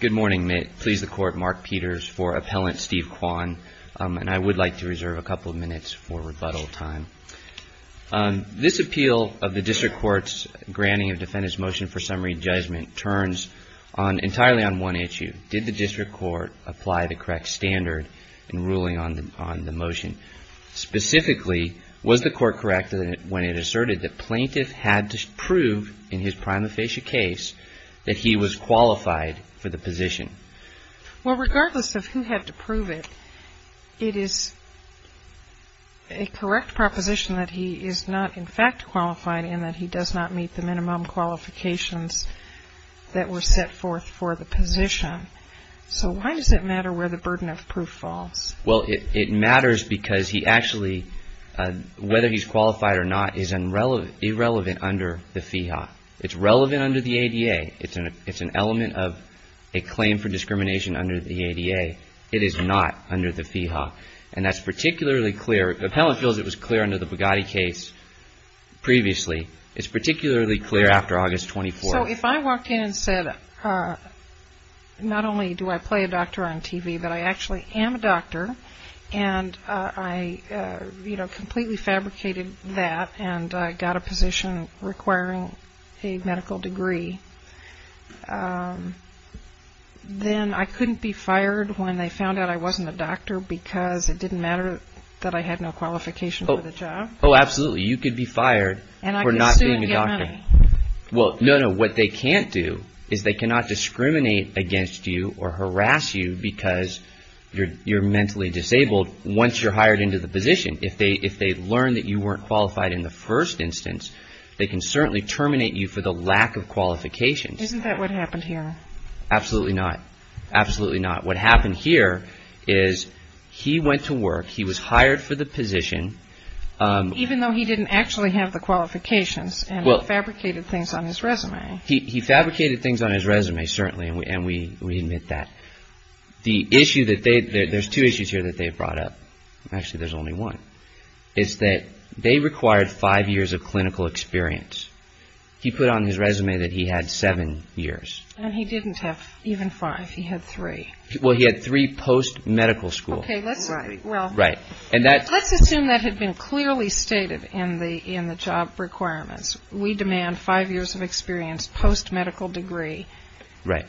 Good morning. I would like to reserve a couple of minutes for rebuttal time. This appeal of the District Court's granting of defendant's motion for summary judgment turns entirely on one issue. Did the District Court apply the correct standard in ruling on the motion? Specifically, was the Court correct when it asserted that plaintiff had to prove in his prima facie case that he was qualified for the position? Well, regardless of who had to prove it, it is a correct proposition that he is not in fact qualified and that he does not meet the minimum qualifications that were set forth for the position. So why does it matter where the burden of proof falls? Well, it matters because he actually, whether he's qualified or not, is irrelevant under the FEHA. It's relevant under the ADA. It's an element of a claim for discrimination under the ADA. It is not under the FEHA, and that's particularly clear. The appellant feels it was clear under the Bugatti case previously. It's particularly clear after August 24th. So if I walked in and said, not only do I play a doctor on TV, but I actually am a doctor, and I completely fabricated that, and I got a position requiring a medical degree, then I couldn't be fired when they found out I wasn't a doctor because it didn't matter that I had no qualification for the job? Oh, absolutely. You could be fired for not being a doctor. Why? Well, no, no, what they can't do is they cannot discriminate against you or harass you because you're mentally disabled once you're hired into the position. If they learn that you weren't qualified in the first instance, they can certainly terminate you for the lack of qualifications. Isn't that what happened here? Absolutely not. Absolutely not. What happened here is he went to work. He was hired for the position. Even though he didn't actually have the qualifications and fabricated things on his resume. He fabricated things on his resume, certainly, and we admit that. The issue that they – there's two issues here that they brought up. Actually, there's only one. It's that they required five years of clinical experience. He put on his resume that he had seven years. And he didn't have even five. He had three. Well, he had three post-medical school. Right. And that – Let's assume that had been clearly stated in the job requirements. We demand five years of experience post-medical degree. Right.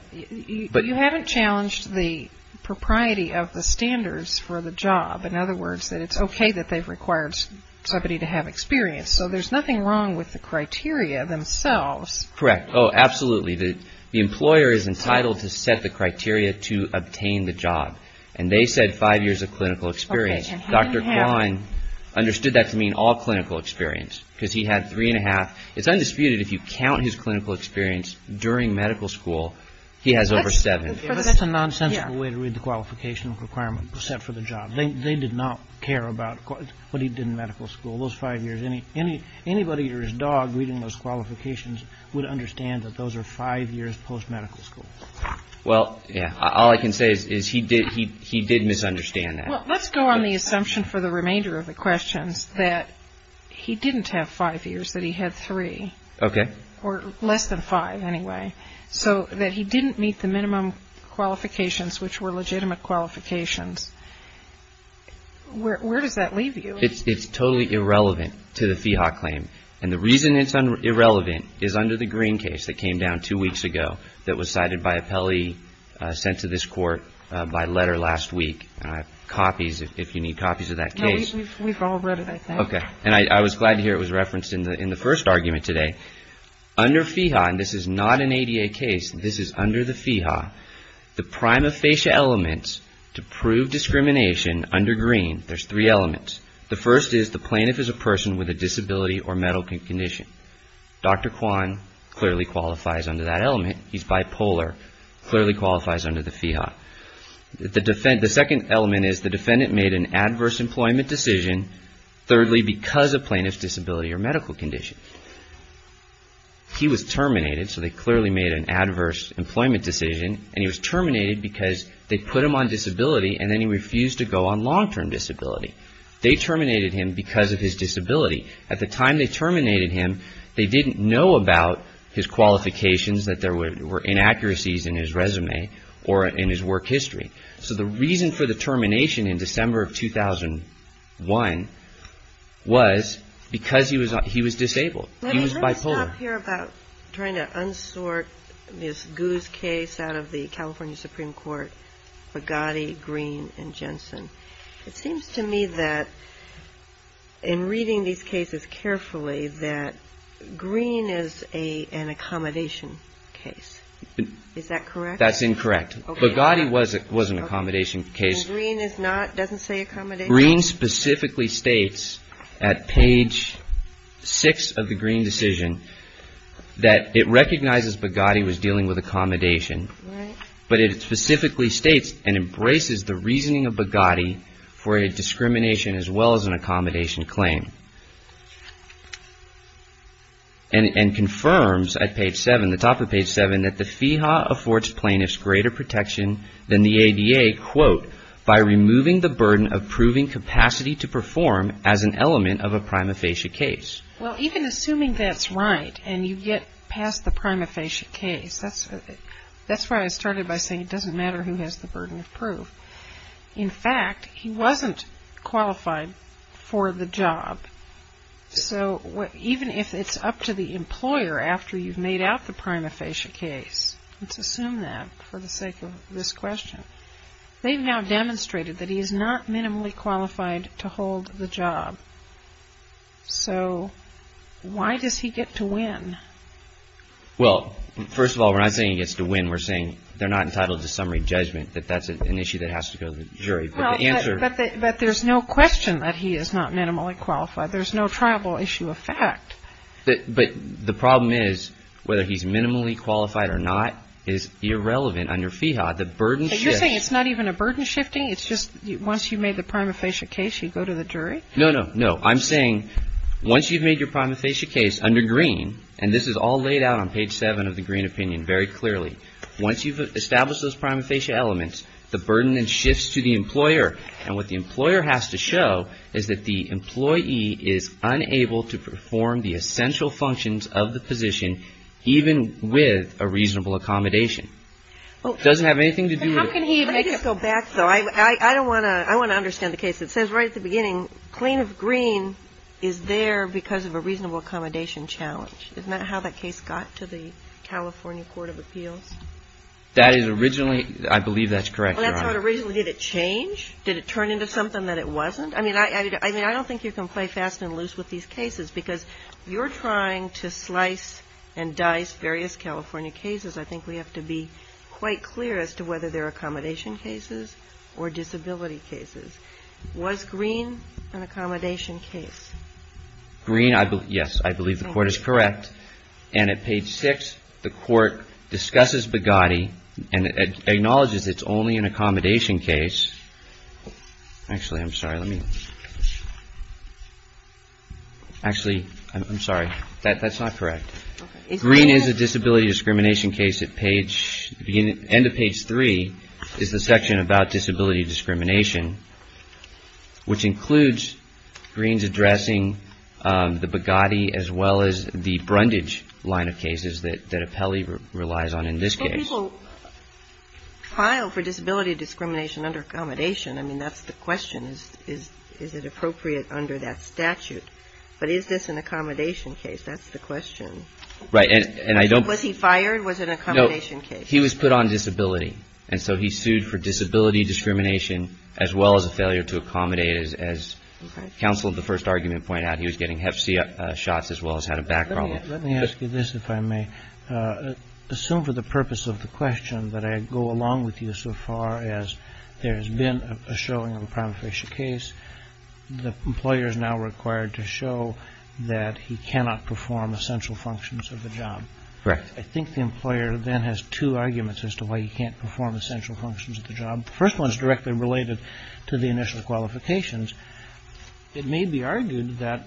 But you haven't challenged the propriety of the standards for the job. In other words, that it's okay that they've required somebody to have experience. So there's nothing wrong with the criteria themselves. Correct. Oh, absolutely. The employer is entitled to set the criteria to obtain the job. And they said five years of clinical experience. Dr. Klein understood that to mean all clinical experience because he had three and a half. It's undisputed if you count his clinical experience during medical school, he has over seven. That's a nonsensical way to read the qualification requirement set for the job. They did not care about what he did in medical school. Those five years – anybody or his dog reading those qualifications would understand that those are five years post-medical school. Well, yeah, all I can say is he did misunderstand that. Well, let's go on the assumption for the remainder of the questions that he didn't have five years, that he had three. Okay. Or less than five, anyway. So that he didn't meet the minimum qualifications, which were legitimate qualifications. Where does that leave you? It's totally irrelevant to the FEHA claim. And the reason it's irrelevant is under the Green case that came down two weeks ago that was cited by appellee sent to this court by letter last week. Copies, if you need copies of that case. No, we've all read it, I think. Okay. And I was glad to hear it was referenced in the first argument today. Under FEHA, and this is not an ADA case, this is under the FEHA, the prima facie elements to prove discrimination under Green, there's three elements. The first is the plaintiff is a person with a disability or medical condition. Dr. Kwan clearly qualifies under that element. He's bipolar, clearly qualifies under the FEHA. The second element is the defendant made an adverse employment decision, thirdly, because of plaintiff's disability or medical condition. He was terminated, so they clearly made an adverse employment decision. And he was terminated because they put him on disability and then he refused to go on long-term disability. They terminated him because of his disability. At the time they terminated him, they didn't know about his qualifications, that there were inaccuracies in his resume or in his work history. So the reason for the termination in December of 2001 was because he was disabled. He was bipolar. I want to stop here about trying to unsort Ms. Gu's case out of the California Supreme Court, Bugatti, Green, and Jensen. It seems to me that in reading these cases carefully that Green is an accommodation case. Is that correct? That's incorrect. Bugatti was an accommodation case. And Green is not, doesn't say accommodation? Green specifically states at page 6 of the Green decision that it recognizes Bugatti was dealing with accommodation. But it specifically states and embraces the reasoning of Bugatti for a discrimination as well as an accommodation claim. And confirms at page 7, the top of page 7, that the FEHA affords plaintiffs greater protection than the ADA, quote, by removing the burden of proving capacity to perform as an element of a prima facie case. Well, even assuming that's right and you get past the prima facie case, that's why I started by saying it doesn't matter who has the burden of proof. In fact, he wasn't qualified for the job. So even if it's up to the employer after you've made out the prima facie case, let's assume that for the sake of this question. They've now demonstrated that he is not minimally qualified to hold the job. So why does he get to win? Well, first of all, we're not saying he gets to win. We're saying they're not entitled to summary judgment, that that's an issue that has to go to the jury. But the answer. But there's no question that he is not minimally qualified. There's no triable issue of fact. But the problem is whether he's minimally qualified or not is irrelevant under FEHA. The burden shifts. So you're saying it's not even a burden shifting. It's just once you've made the prima facie case, you go to the jury? No, no, no. I'm saying once you've made your prima facie case under Greene, and this is all laid out on page seven of the Greene opinion very clearly, once you've established those prima facie elements, the burden then shifts to the employer. And what the employer has to show is that the employee is unable to perform the essential functions of the position, even with a reasonable accommodation. It doesn't have anything to do with. Let me just go back, though. I don't want to ‑‑ I want to understand the case. It says right at the beginning, plaintiff Greene is there because of a reasonable accommodation challenge. Isn't that how that case got to the California Court of Appeals? That is originally ‑‑ I believe that's correct, Your Honor. That's how it originally ‑‑ did it change? Did it turn into something that it wasn't? I mean, I don't think you can play fast and loose with these cases, because you're trying to slice and dice various California cases. I think we have to be quite clear as to whether they're accommodation cases or disability cases. Was Greene an accommodation case? Greene, yes, I believe the court is correct. And at page six, the court discusses Bogatti and acknowledges it's only an accommodation case. Actually, I'm sorry. Let me ‑‑ actually, I'm sorry. That's not correct. Greene is a disability discrimination case at page ‑‑ end of page three is the section about disability discrimination, which includes Greene's addressing the Bogatti as well as the Brundage line of cases that Apelli relies on in this case. So people file for disability discrimination under accommodation. I mean, that's the question. Is it appropriate under that statute? But is this an accommodation case? That's the question. Right. And I don't ‑‑ Was he fired? Was it an accommodation case? No. He was put on disability. And so he sued for disability discrimination as well as a failure to accommodate. As counsel of the first argument pointed out, he was getting Hep C shots as well as had a back problem. Let me ask you this, if I may. Assume for the purpose of the question that I go along with you so far as there has been a showing of a prima facie case. The employer is now required to show that he cannot perform essential functions of the job. Correct. I think the employer then has two arguments as to why he can't perform essential functions of the job. The first one is directly related to the initial qualifications. It may be argued that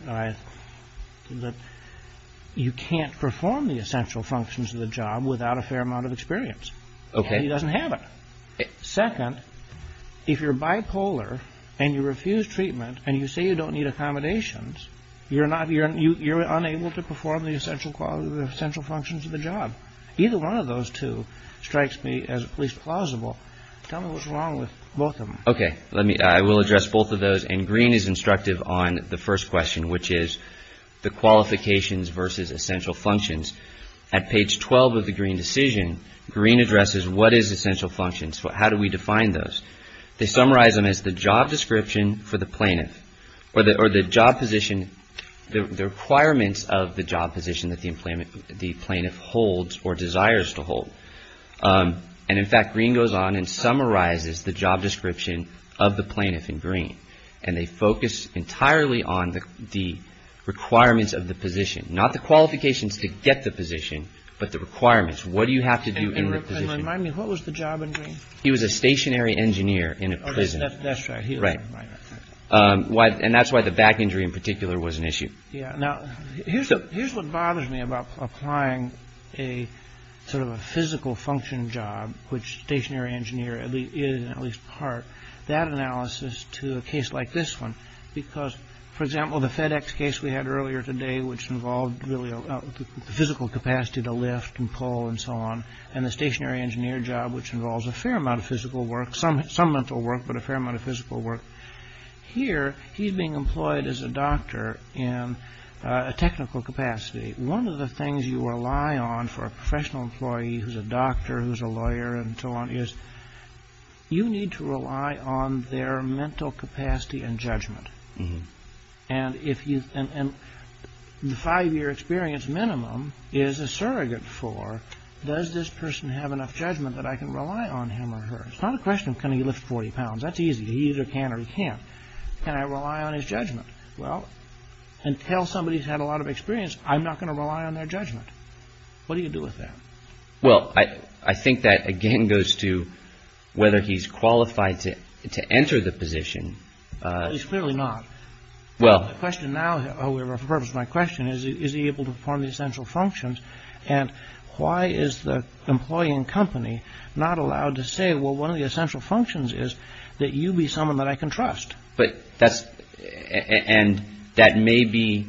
you can't perform the essential functions of the job without a fair amount of experience. Okay. He doesn't have it. Second, if you're bipolar and you refuse treatment and you say you don't need accommodations, you're unable to perform the essential functions of the job. Either one of those two strikes me as at least plausible. Tell me what's wrong with both of them. Okay. I will address both of those. And Green is instructive on the first question, which is the qualifications versus essential functions. At page 12 of the Green decision, Green addresses what is essential functions. How do we define those? They summarize them as the job description for the plaintiff or the job position, the requirements of the job position that the plaintiff holds or desires to hold. And, in fact, Green goes on and summarizes the job description of the plaintiff in Green. And they focus entirely on the requirements of the position, not the qualifications to get the position, but the requirements. What do you have to do in the position? And remind me, what was the job in Green? He was a stationary engineer in a prison. That's right. Right. And that's why the back injury in particular was an issue. Yeah. Now, here's what bothers me about applying a sort of a physical function job, which stationary engineer is in at least part, that analysis to a case like this one, because, for example, the FedEx case we had earlier today, which involved really the physical capacity to lift and pull and so on, and the stationary engineer job, which involves a fair amount of physical work, some mental work, but a fair amount of physical work. Here, he's being employed as a doctor in a technical capacity. One of the things you rely on for a professional employee who's a doctor, who's a lawyer and so on, is you need to rely on their mental capacity and judgment. And the five-year experience minimum is a surrogate for, does this person have enough judgment that I can rely on him or her? It's not a question of can he lift 40 pounds. That's easy. He either can or he can't. Can I rely on his judgment? Well, until somebody's had a lot of experience, I'm not going to rely on their judgment. What do you do with that? Well, I think that, again, goes to whether he's qualified to enter the position. He's clearly not. Well, the question now, for the purpose of my question, is he able to perform the essential functions? And why is the employee and company not allowed to say, well, one of the essential functions is that you be someone that I can trust? But that's, and that may be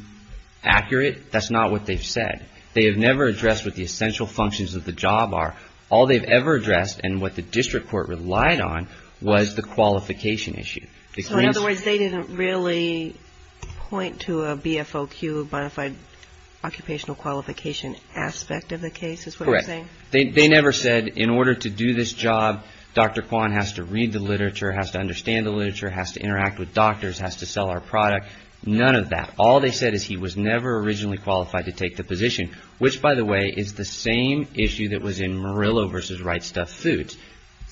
accurate. That's not what they've said. They have never addressed what the essential functions of the job are. All they've ever addressed and what the district court relied on was the qualification issue. So, in other words, they didn't really point to a BFOQ, bona fide occupational qualification aspect of the case is what you're saying? Correct. They never said in order to do this job, Dr. Kwan has to read the literature, has to understand the literature, has to interact with doctors, has to sell our product. None of that. All they said is he was never originally qualified to take the position, which, by the way, is the same issue that was in Murillo v. Right Stuff Foods.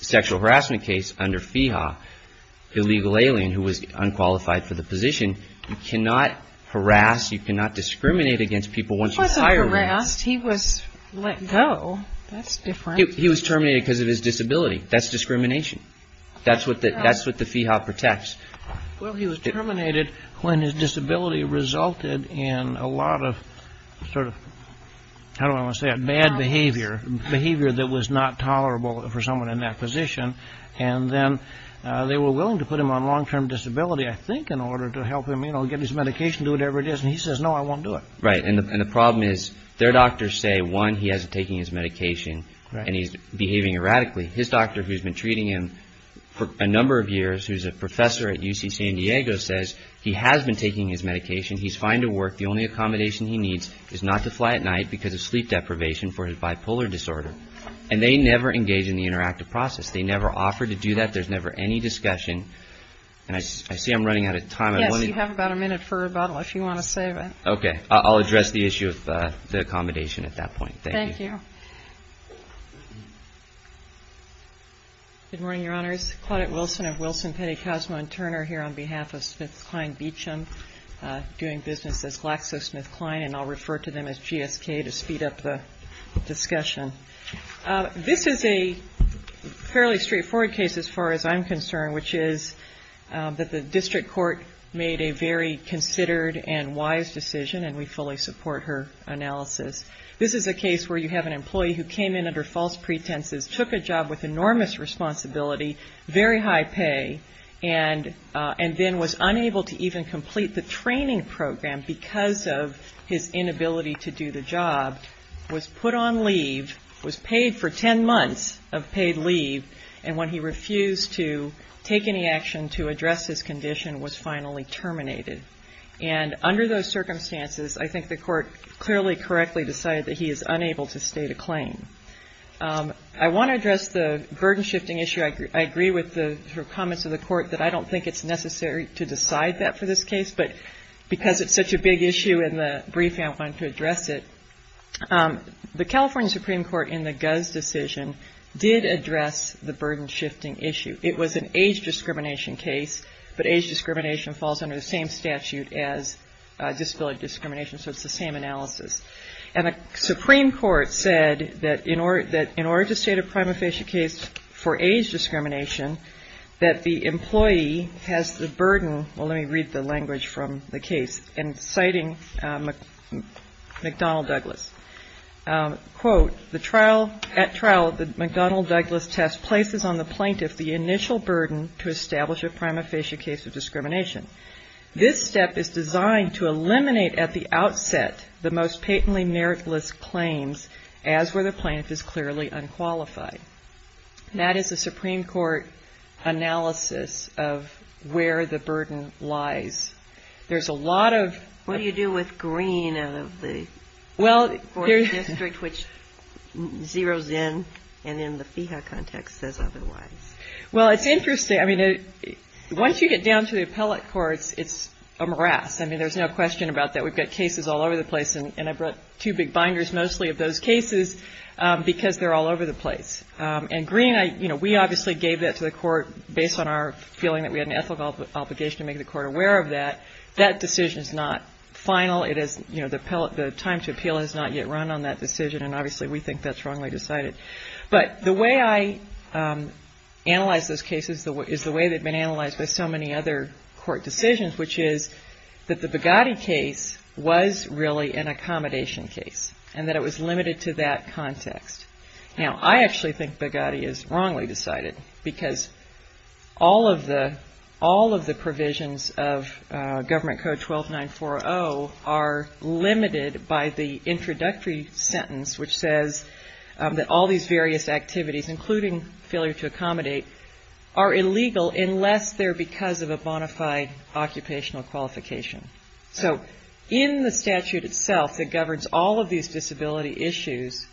The sexual harassment case under FEHA, illegal alien who was unqualified for the position, you cannot harass, you cannot discriminate against people once you hire them. He wasn't harassed. He was let go. That's different. He was terminated because of his disability. That's discrimination. That's what the FEHA protects. Well, he was terminated when his disability resulted in a lot of sort of bad behavior, behavior that was not tolerable for someone in that position. And then they were willing to put him on long-term disability, I think, in order to help him get his medication, do whatever it is. And he says, no, I won't do it. Right. And the problem is their doctors say, one, he hasn't taken his medication and he's behaving erratically. His doctor, who's been treating him for a number of years, who's a professor at UC San Diego, says he has been taking his medication. He's fine to work. The only accommodation he needs is not to fly at night because of sleep deprivation for his bipolar disorder. And they never engage in the interactive process. They never offer to do that. There's never any discussion. And I see I'm running out of time. Yes, you have about a minute for rebuttal if you want to save it. Okay. I'll address the issue of the accommodation at that point. Thank you. Good morning, Your Honors. Claudette Wilson of Wilson, Petty, Cosmo & Turner here on behalf of SmithKline Beecham, doing business as GlaxoSmithKline, and I'll refer to them as GSK to speed up the discussion. This is a fairly straightforward case as far as I'm concerned, which is that the district court made a very considered and wise decision, and we fully support her analysis. This is a case where you have an employee who came in under false pretenses, took a job with enormous responsibility, very high pay, and then was unable to even complete the training program because of his inability to do the job, was put on leave, was paid for ten months of paid leave, and when he refused to take any action to address his condition was finally terminated. And under those circumstances, I think the court clearly correctly decided that he is unable to state a claim. I want to address the burden shifting issue. I agree with the comments of the court that I don't think it's necessary to decide that for this case, but because it's such a big issue in the brief, I wanted to address it. The California Supreme Court in the Guz decision did address the burden shifting issue. It was an age discrimination case, but age discrimination falls under the same statute as disability discrimination, so it's the same analysis. And the Supreme Court said that in order to state a prima facie case for age discrimination, that the employee has the burden, well, let me read the language from the case, and citing McDonnell Douglas, quote, At trial, the McDonnell Douglas test places on the plaintiff the initial burden to establish a prima facie case of discrimination. This step is designed to eliminate at the outset the most patently meritless claims, as where the plaintiff is clearly unqualified. That is the Supreme Court analysis of where the burden lies. There's a lot of… Well, it's interesting. I mean, once you get down to the appellate courts, it's a morass. I mean, there's no question about that. We've got cases all over the place, and I brought two big binders mostly of those cases, because they're all over the place. And Green, you know, we obviously gave that to the court based on our feeling that we had an ethical obligation to make the court aware of that. That decision is not final. It is, you know, the time to appeal has not yet run on that decision, and obviously we think that's wrongly decided. But the way I analyze those cases is the way they've been analyzed by so many other court decisions, which is that the Bugatti case was really an accommodation case, and that it was limited to that context. Now, I actually think Bugatti is wrongly decided, because all of the provisions of Government Code 12940 are limited by the introductory sentence, which says that all these various activities, including failure to accommodate, are illegal unless they're because of a bona fide occupational qualification. So in the statute itself that governs all of these disability issues,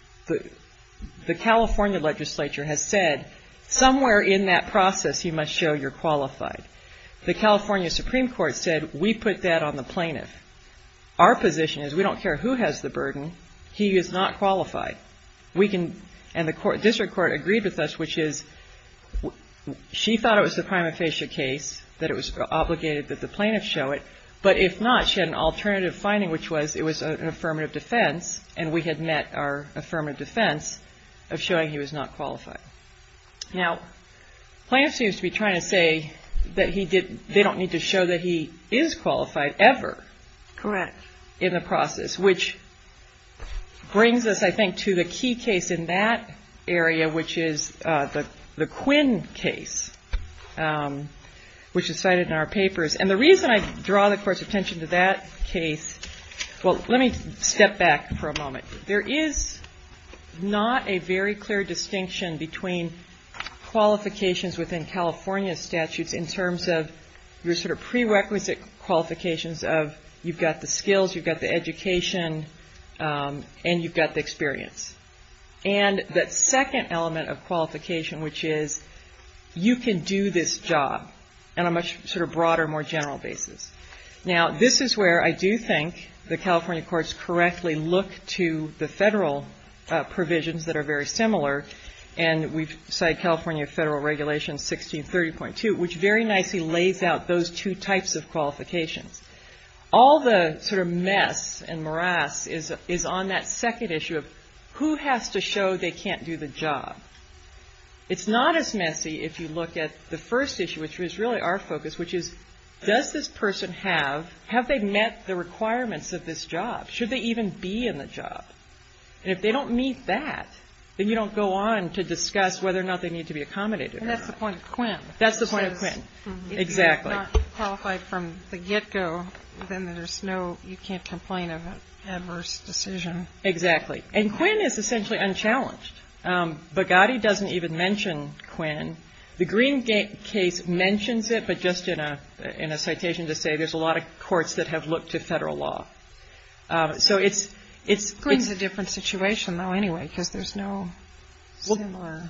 the California legislature has said somewhere in that process you must show you're qualified. The California Supreme Court said we put that on the plaintiff. Our position is we don't care who has the burden. He is not qualified. And the district court agreed with us, which is she thought it was a prima facie case, that it was obligated that the plaintiff show it, but if not, she had an alternative finding, which was it was an affirmative defense, and we had met our affirmative defense of showing he was not qualified. Now, the plaintiff seems to be trying to say that they don't need to show that he is qualified ever in the process, which brings us, I think, to the key case in that area, which is the Quinn case, which is cited in our papers. And the reason I draw the court's attention to that case, well, let me step back for a moment. There is not a very clear distinction between qualifications within California statutes in terms of your sort of prerequisite qualifications of you've got the skills, you've got the education, and you've got the experience. And that second element of qualification, which is you can do this job on a much sort of broader, more general basis. Now, this is where I do think the California courts correctly look to the Federal provisions that are very similar, and we cite California Federal Regulations 1630.2, which very nicely lays out those two types of qualifications. All the sort of mess and morass is on that second issue of who has to show they can't do the job. It's not as messy if you look at the first issue, which was really our focus, which is does this person have, have they met the requirements of this job? Should they even be in the job? And if they don't meet that, then you don't go on to discuss whether or not they need to be accommodated. And that's the point of Quinn. That's the point of Quinn, exactly. If you're not qualified from the get-go, then there's no, you can't complain of an adverse decision. Exactly. And Quinn is essentially unchallenged. Bogatti doesn't even mention Quinn. The Green case mentions it, but just in a citation to say there's a lot of courts that have looked to Federal law. So it's, it's. Green's a different situation, though, anyway, because there's no similar.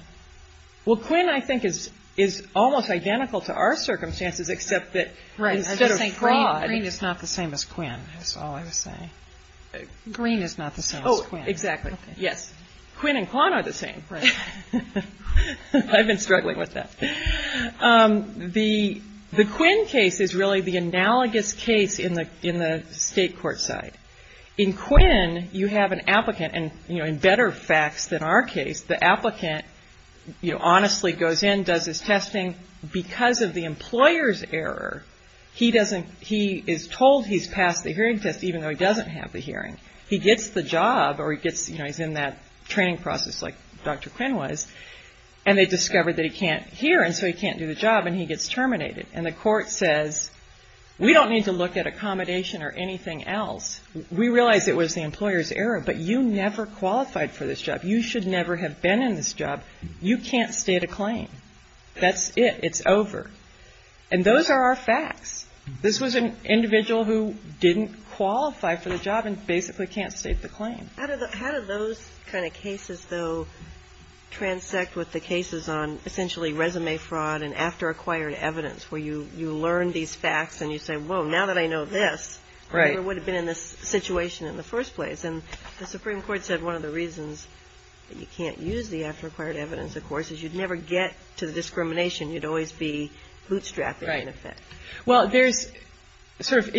Well, Quinn, I think, is, is almost identical to our circumstances, except that instead of fraud. Green is not the same as Quinn, is all I was saying. Green is not the same as Quinn. Oh, exactly. Yes. Quinn and Quan are the same. I've been struggling with that. The, the Quinn case is really the analogous case in the, in the state court side. In Quinn, you have an applicant, and, you know, in better facts than our case, the applicant, you know, honestly goes in, does his testing. Because of the employer's error, he doesn't, he is told he's passed the hearing test, even though he doesn't have the hearing. He gets the job, or he gets, you know, he's in that training process like Dr. Quinn was, and they discover that he can't hear, and so he can't do the job, and he gets terminated. And the court says, we don't need to look at accommodation or anything else. We realize it was the employer's error, but you never qualified for this job. You should never have been in this job. You can't state a claim. That's it. It's over. And those are our facts. This was an individual who didn't qualify for the job and basically can't state the claim. How did those kind of cases, though, transect with the cases on essentially resume fraud and after acquired evidence, where you learn these facts and you say, well, now that I know this, I never would have been in this situation in the first place. And the Supreme Court said one of the reasons that you can't use the after acquired evidence, of course, is you'd never get to the discrimination. You'd always be bootstrapping, in effect. Right. Well, there's sort of,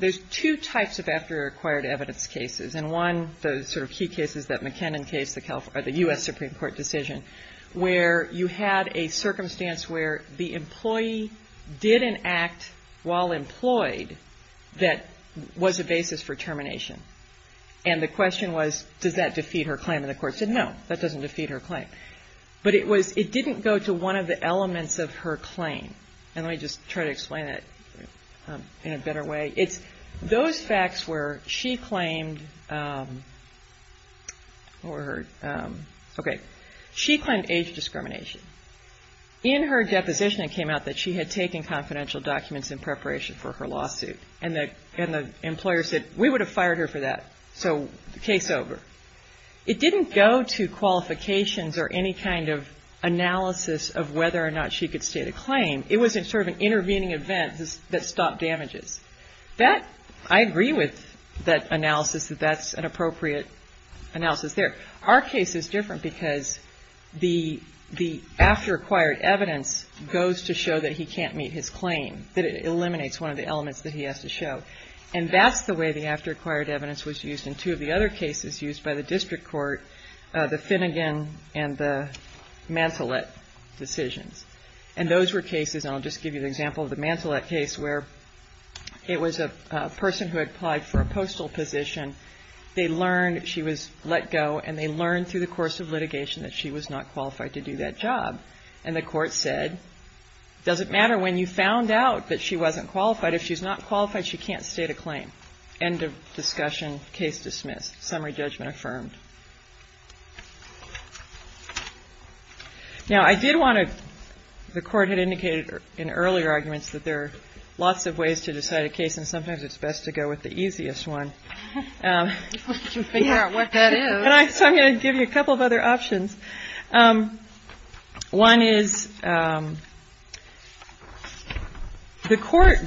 there's two types of after acquired evidence cases. And one, the sort of key cases, that McKinnon case, the U.S. Supreme Court decision, where you had a circumstance where the employee did an act while employed that was a basis for termination. And the question was, does that defeat her claim? And the court said, no, that doesn't defeat her claim. But it was, it didn't go to one of the elements of her claim. And let me just try to explain that in a better way. It's those facts where she claimed age discrimination. In her deposition, it came out that she had taken confidential documents in preparation for her lawsuit. And the employer said, we would have fired her for that. So case over. It didn't go to qualifications or any kind of analysis of whether or not she could state a claim. It was sort of an intervening event that stopped damages. That, I agree with that analysis, that that's an appropriate analysis there. Our case is different because the after acquired evidence goes to show that he can't meet his claim, that it eliminates one of the elements that he has to show. And that's the way the after acquired evidence was used in two of the other cases used by the district court, the Finnegan and the Mantelet decisions. And those were cases, and I'll just give you an example of the Mantelet case, where it was a person who had applied for a postal position. They learned she was let go, and they learned through the course of litigation that she was not qualified to do that job. And the court said, does it matter when you found out that she wasn't qualified? If she's not qualified, she can't state a claim. End of discussion. Case dismissed. Summary judgment affirmed. Now, I did want to, the court had indicated in earlier arguments that there are lots of ways to decide a case, and sometimes it's best to go with the easiest one. I'm going to give you a couple of other options. One is the court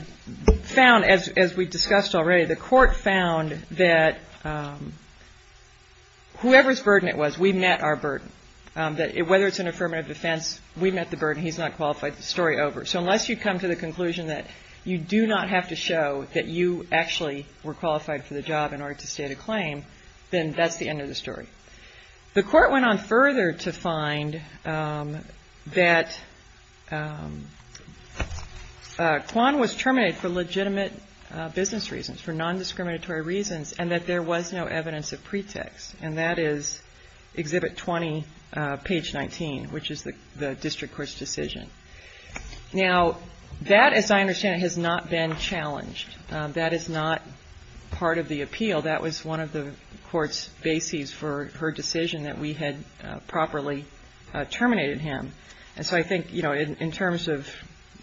found, as we discussed already, the court found that whoever's burden it was, we met our burden. Whether it's an affirmative defense, we met the burden. He's not qualified. Story over. So unless you come to the conclusion that you do not have to show that you actually were qualified for the job in order to state a claim, then that's the end of the story. The court went on further to find that Quan was terminated for legitimate business reasons, for nondiscriminatory reasons, and that there was no evidence of pretext. And that is Exhibit 20, page 19, which is the district court's decision. Now, that, as I understand it, has not been challenged. That is not part of the appeal. That was one of the court's bases for her decision that we had properly terminated him. And so I think, you know, in terms of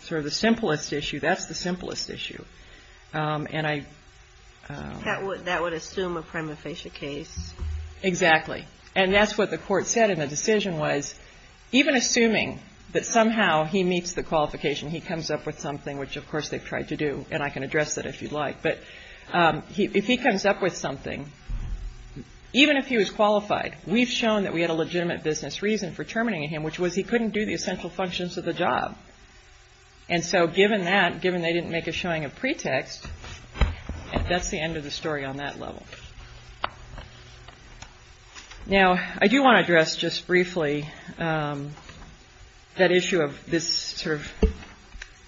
sort of the simplest issue, that's the simplest issue. And I ---- That would assume a prima facie case. Exactly. And that's what the court said in the decision was, even assuming that somehow he meets the qualification, he comes up with something, which, of course, they've tried to do, and I can address that if you'd like. But if he comes up with something, even if he was qualified, we've shown that we had a legitimate business reason for terminating him, which was he couldn't do the essential functions of the job. And so given that, given they didn't make a showing of pretext, that's the end of the story on that level. Now, I do want to address just briefly that issue of this sort of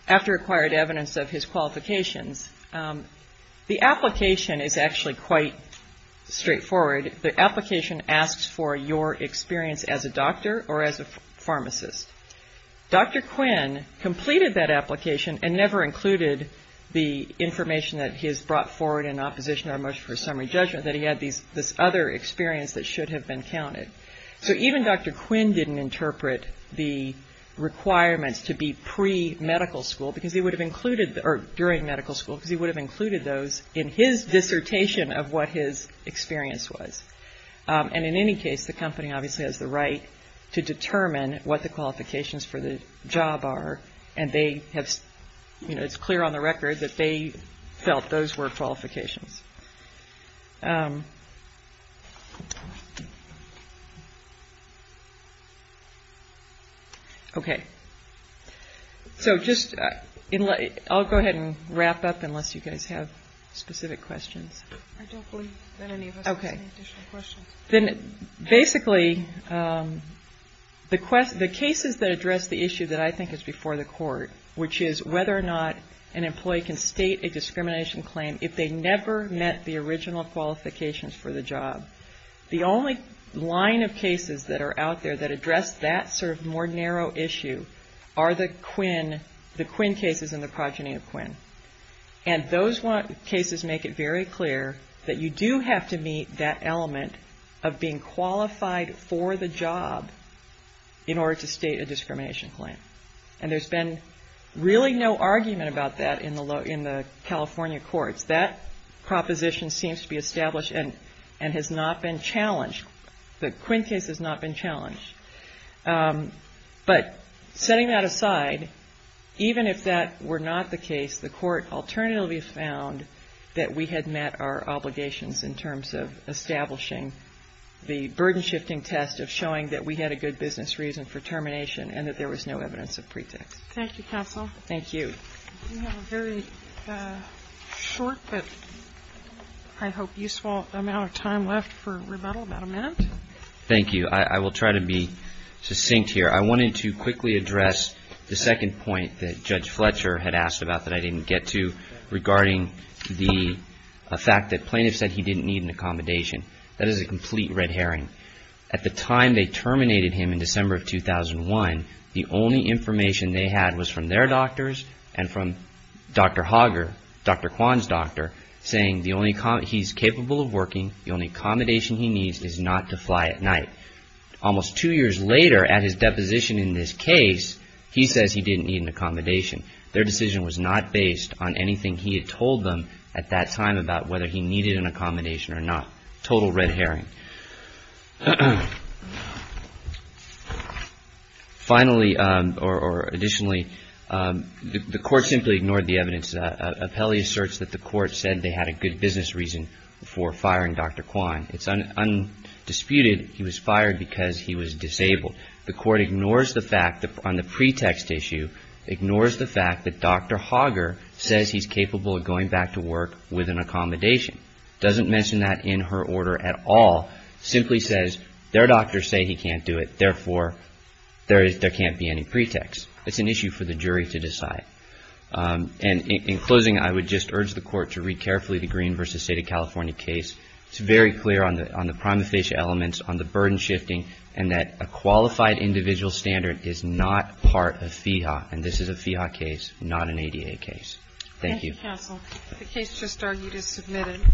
after acquired evidence of his qualifications. The application is actually quite straightforward. The application asks for your experience as a doctor or as a pharmacist. Dr. Quinn completed that application and never included the information that he has brought forward in opposition to our motion for summary judgment, that he had this other experience that should have been counted. So even Dr. Quinn didn't interpret the requirements to be pre-medical school because he would have included, or during medical school because he would have included those in his dissertation of what his experience was. And in any case, the company obviously has the right to determine what the qualifications for the job are, and it's clear on the record that they felt those were qualifications. Okay. So I'll go ahead and wrap up unless you guys have specific questions. I don't believe that any of us has any additional questions. Then basically, the cases that address the issue that I think is before the court, which is whether or not an employee can state a discrimination claim if they never met the original qualifications for the job, the only line of cases that are out there that address that sort of more narrow issue are the Quinn cases and the progeny of Quinn. And those cases make it very clear that you do have to meet that element of being qualified for the job in order to state a discrimination claim. And there's been really no argument about that in the California courts. That proposition seems to be established and has not been challenged. But setting that aside, even if that were not the case, the court alternatively found that we had met our obligations in terms of establishing the burden-shifting test of showing that we had a good business reason for termination and that there was no evidence of pretext. Thank you, counsel. Thank you. We have a very short but I hope useful amount of time left for rebuttal, about a minute. Thank you. I will try to be succinct here. I wanted to quickly address the second point that Judge Fletcher had asked about that I didn't get to, regarding the fact that plaintiffs said he didn't need an accommodation. That is a complete red herring. At the time they terminated him in December of 2001, the only information they had was from their doctors and from Dr. Hager, Dr. Kwan's doctor, saying he's capable of working, the only accommodation he needs is not to fly at night. Almost two years later, at his deposition in this case, he says he didn't need an accommodation. Their decision was not based on anything he had told them at that time about whether he needed an accommodation or not. Total red herring. Finally, or additionally, the court simply ignored the evidence. Appellee asserts that the court said they had a good business reason for firing Dr. Kwan. It's undisputed he was fired because he was disabled. The court ignores the fact on the pretext issue, ignores the fact that Dr. Hager says he's capable of going back to work with an accommodation. Doesn't mention that in her order at all. Simply says their doctors say he can't do it, therefore there can't be any pretext. It's an issue for the jury to decide. And in closing, I would just urge the court to read carefully the Green v. State of California case. It's very clear on the prima facie elements, on the burden shifting, and that a qualified individual standard is not part of FEHA. And this is a FEHA case, not an ADA case. Thank you. Thank you, counsel. The case just argued is submitted.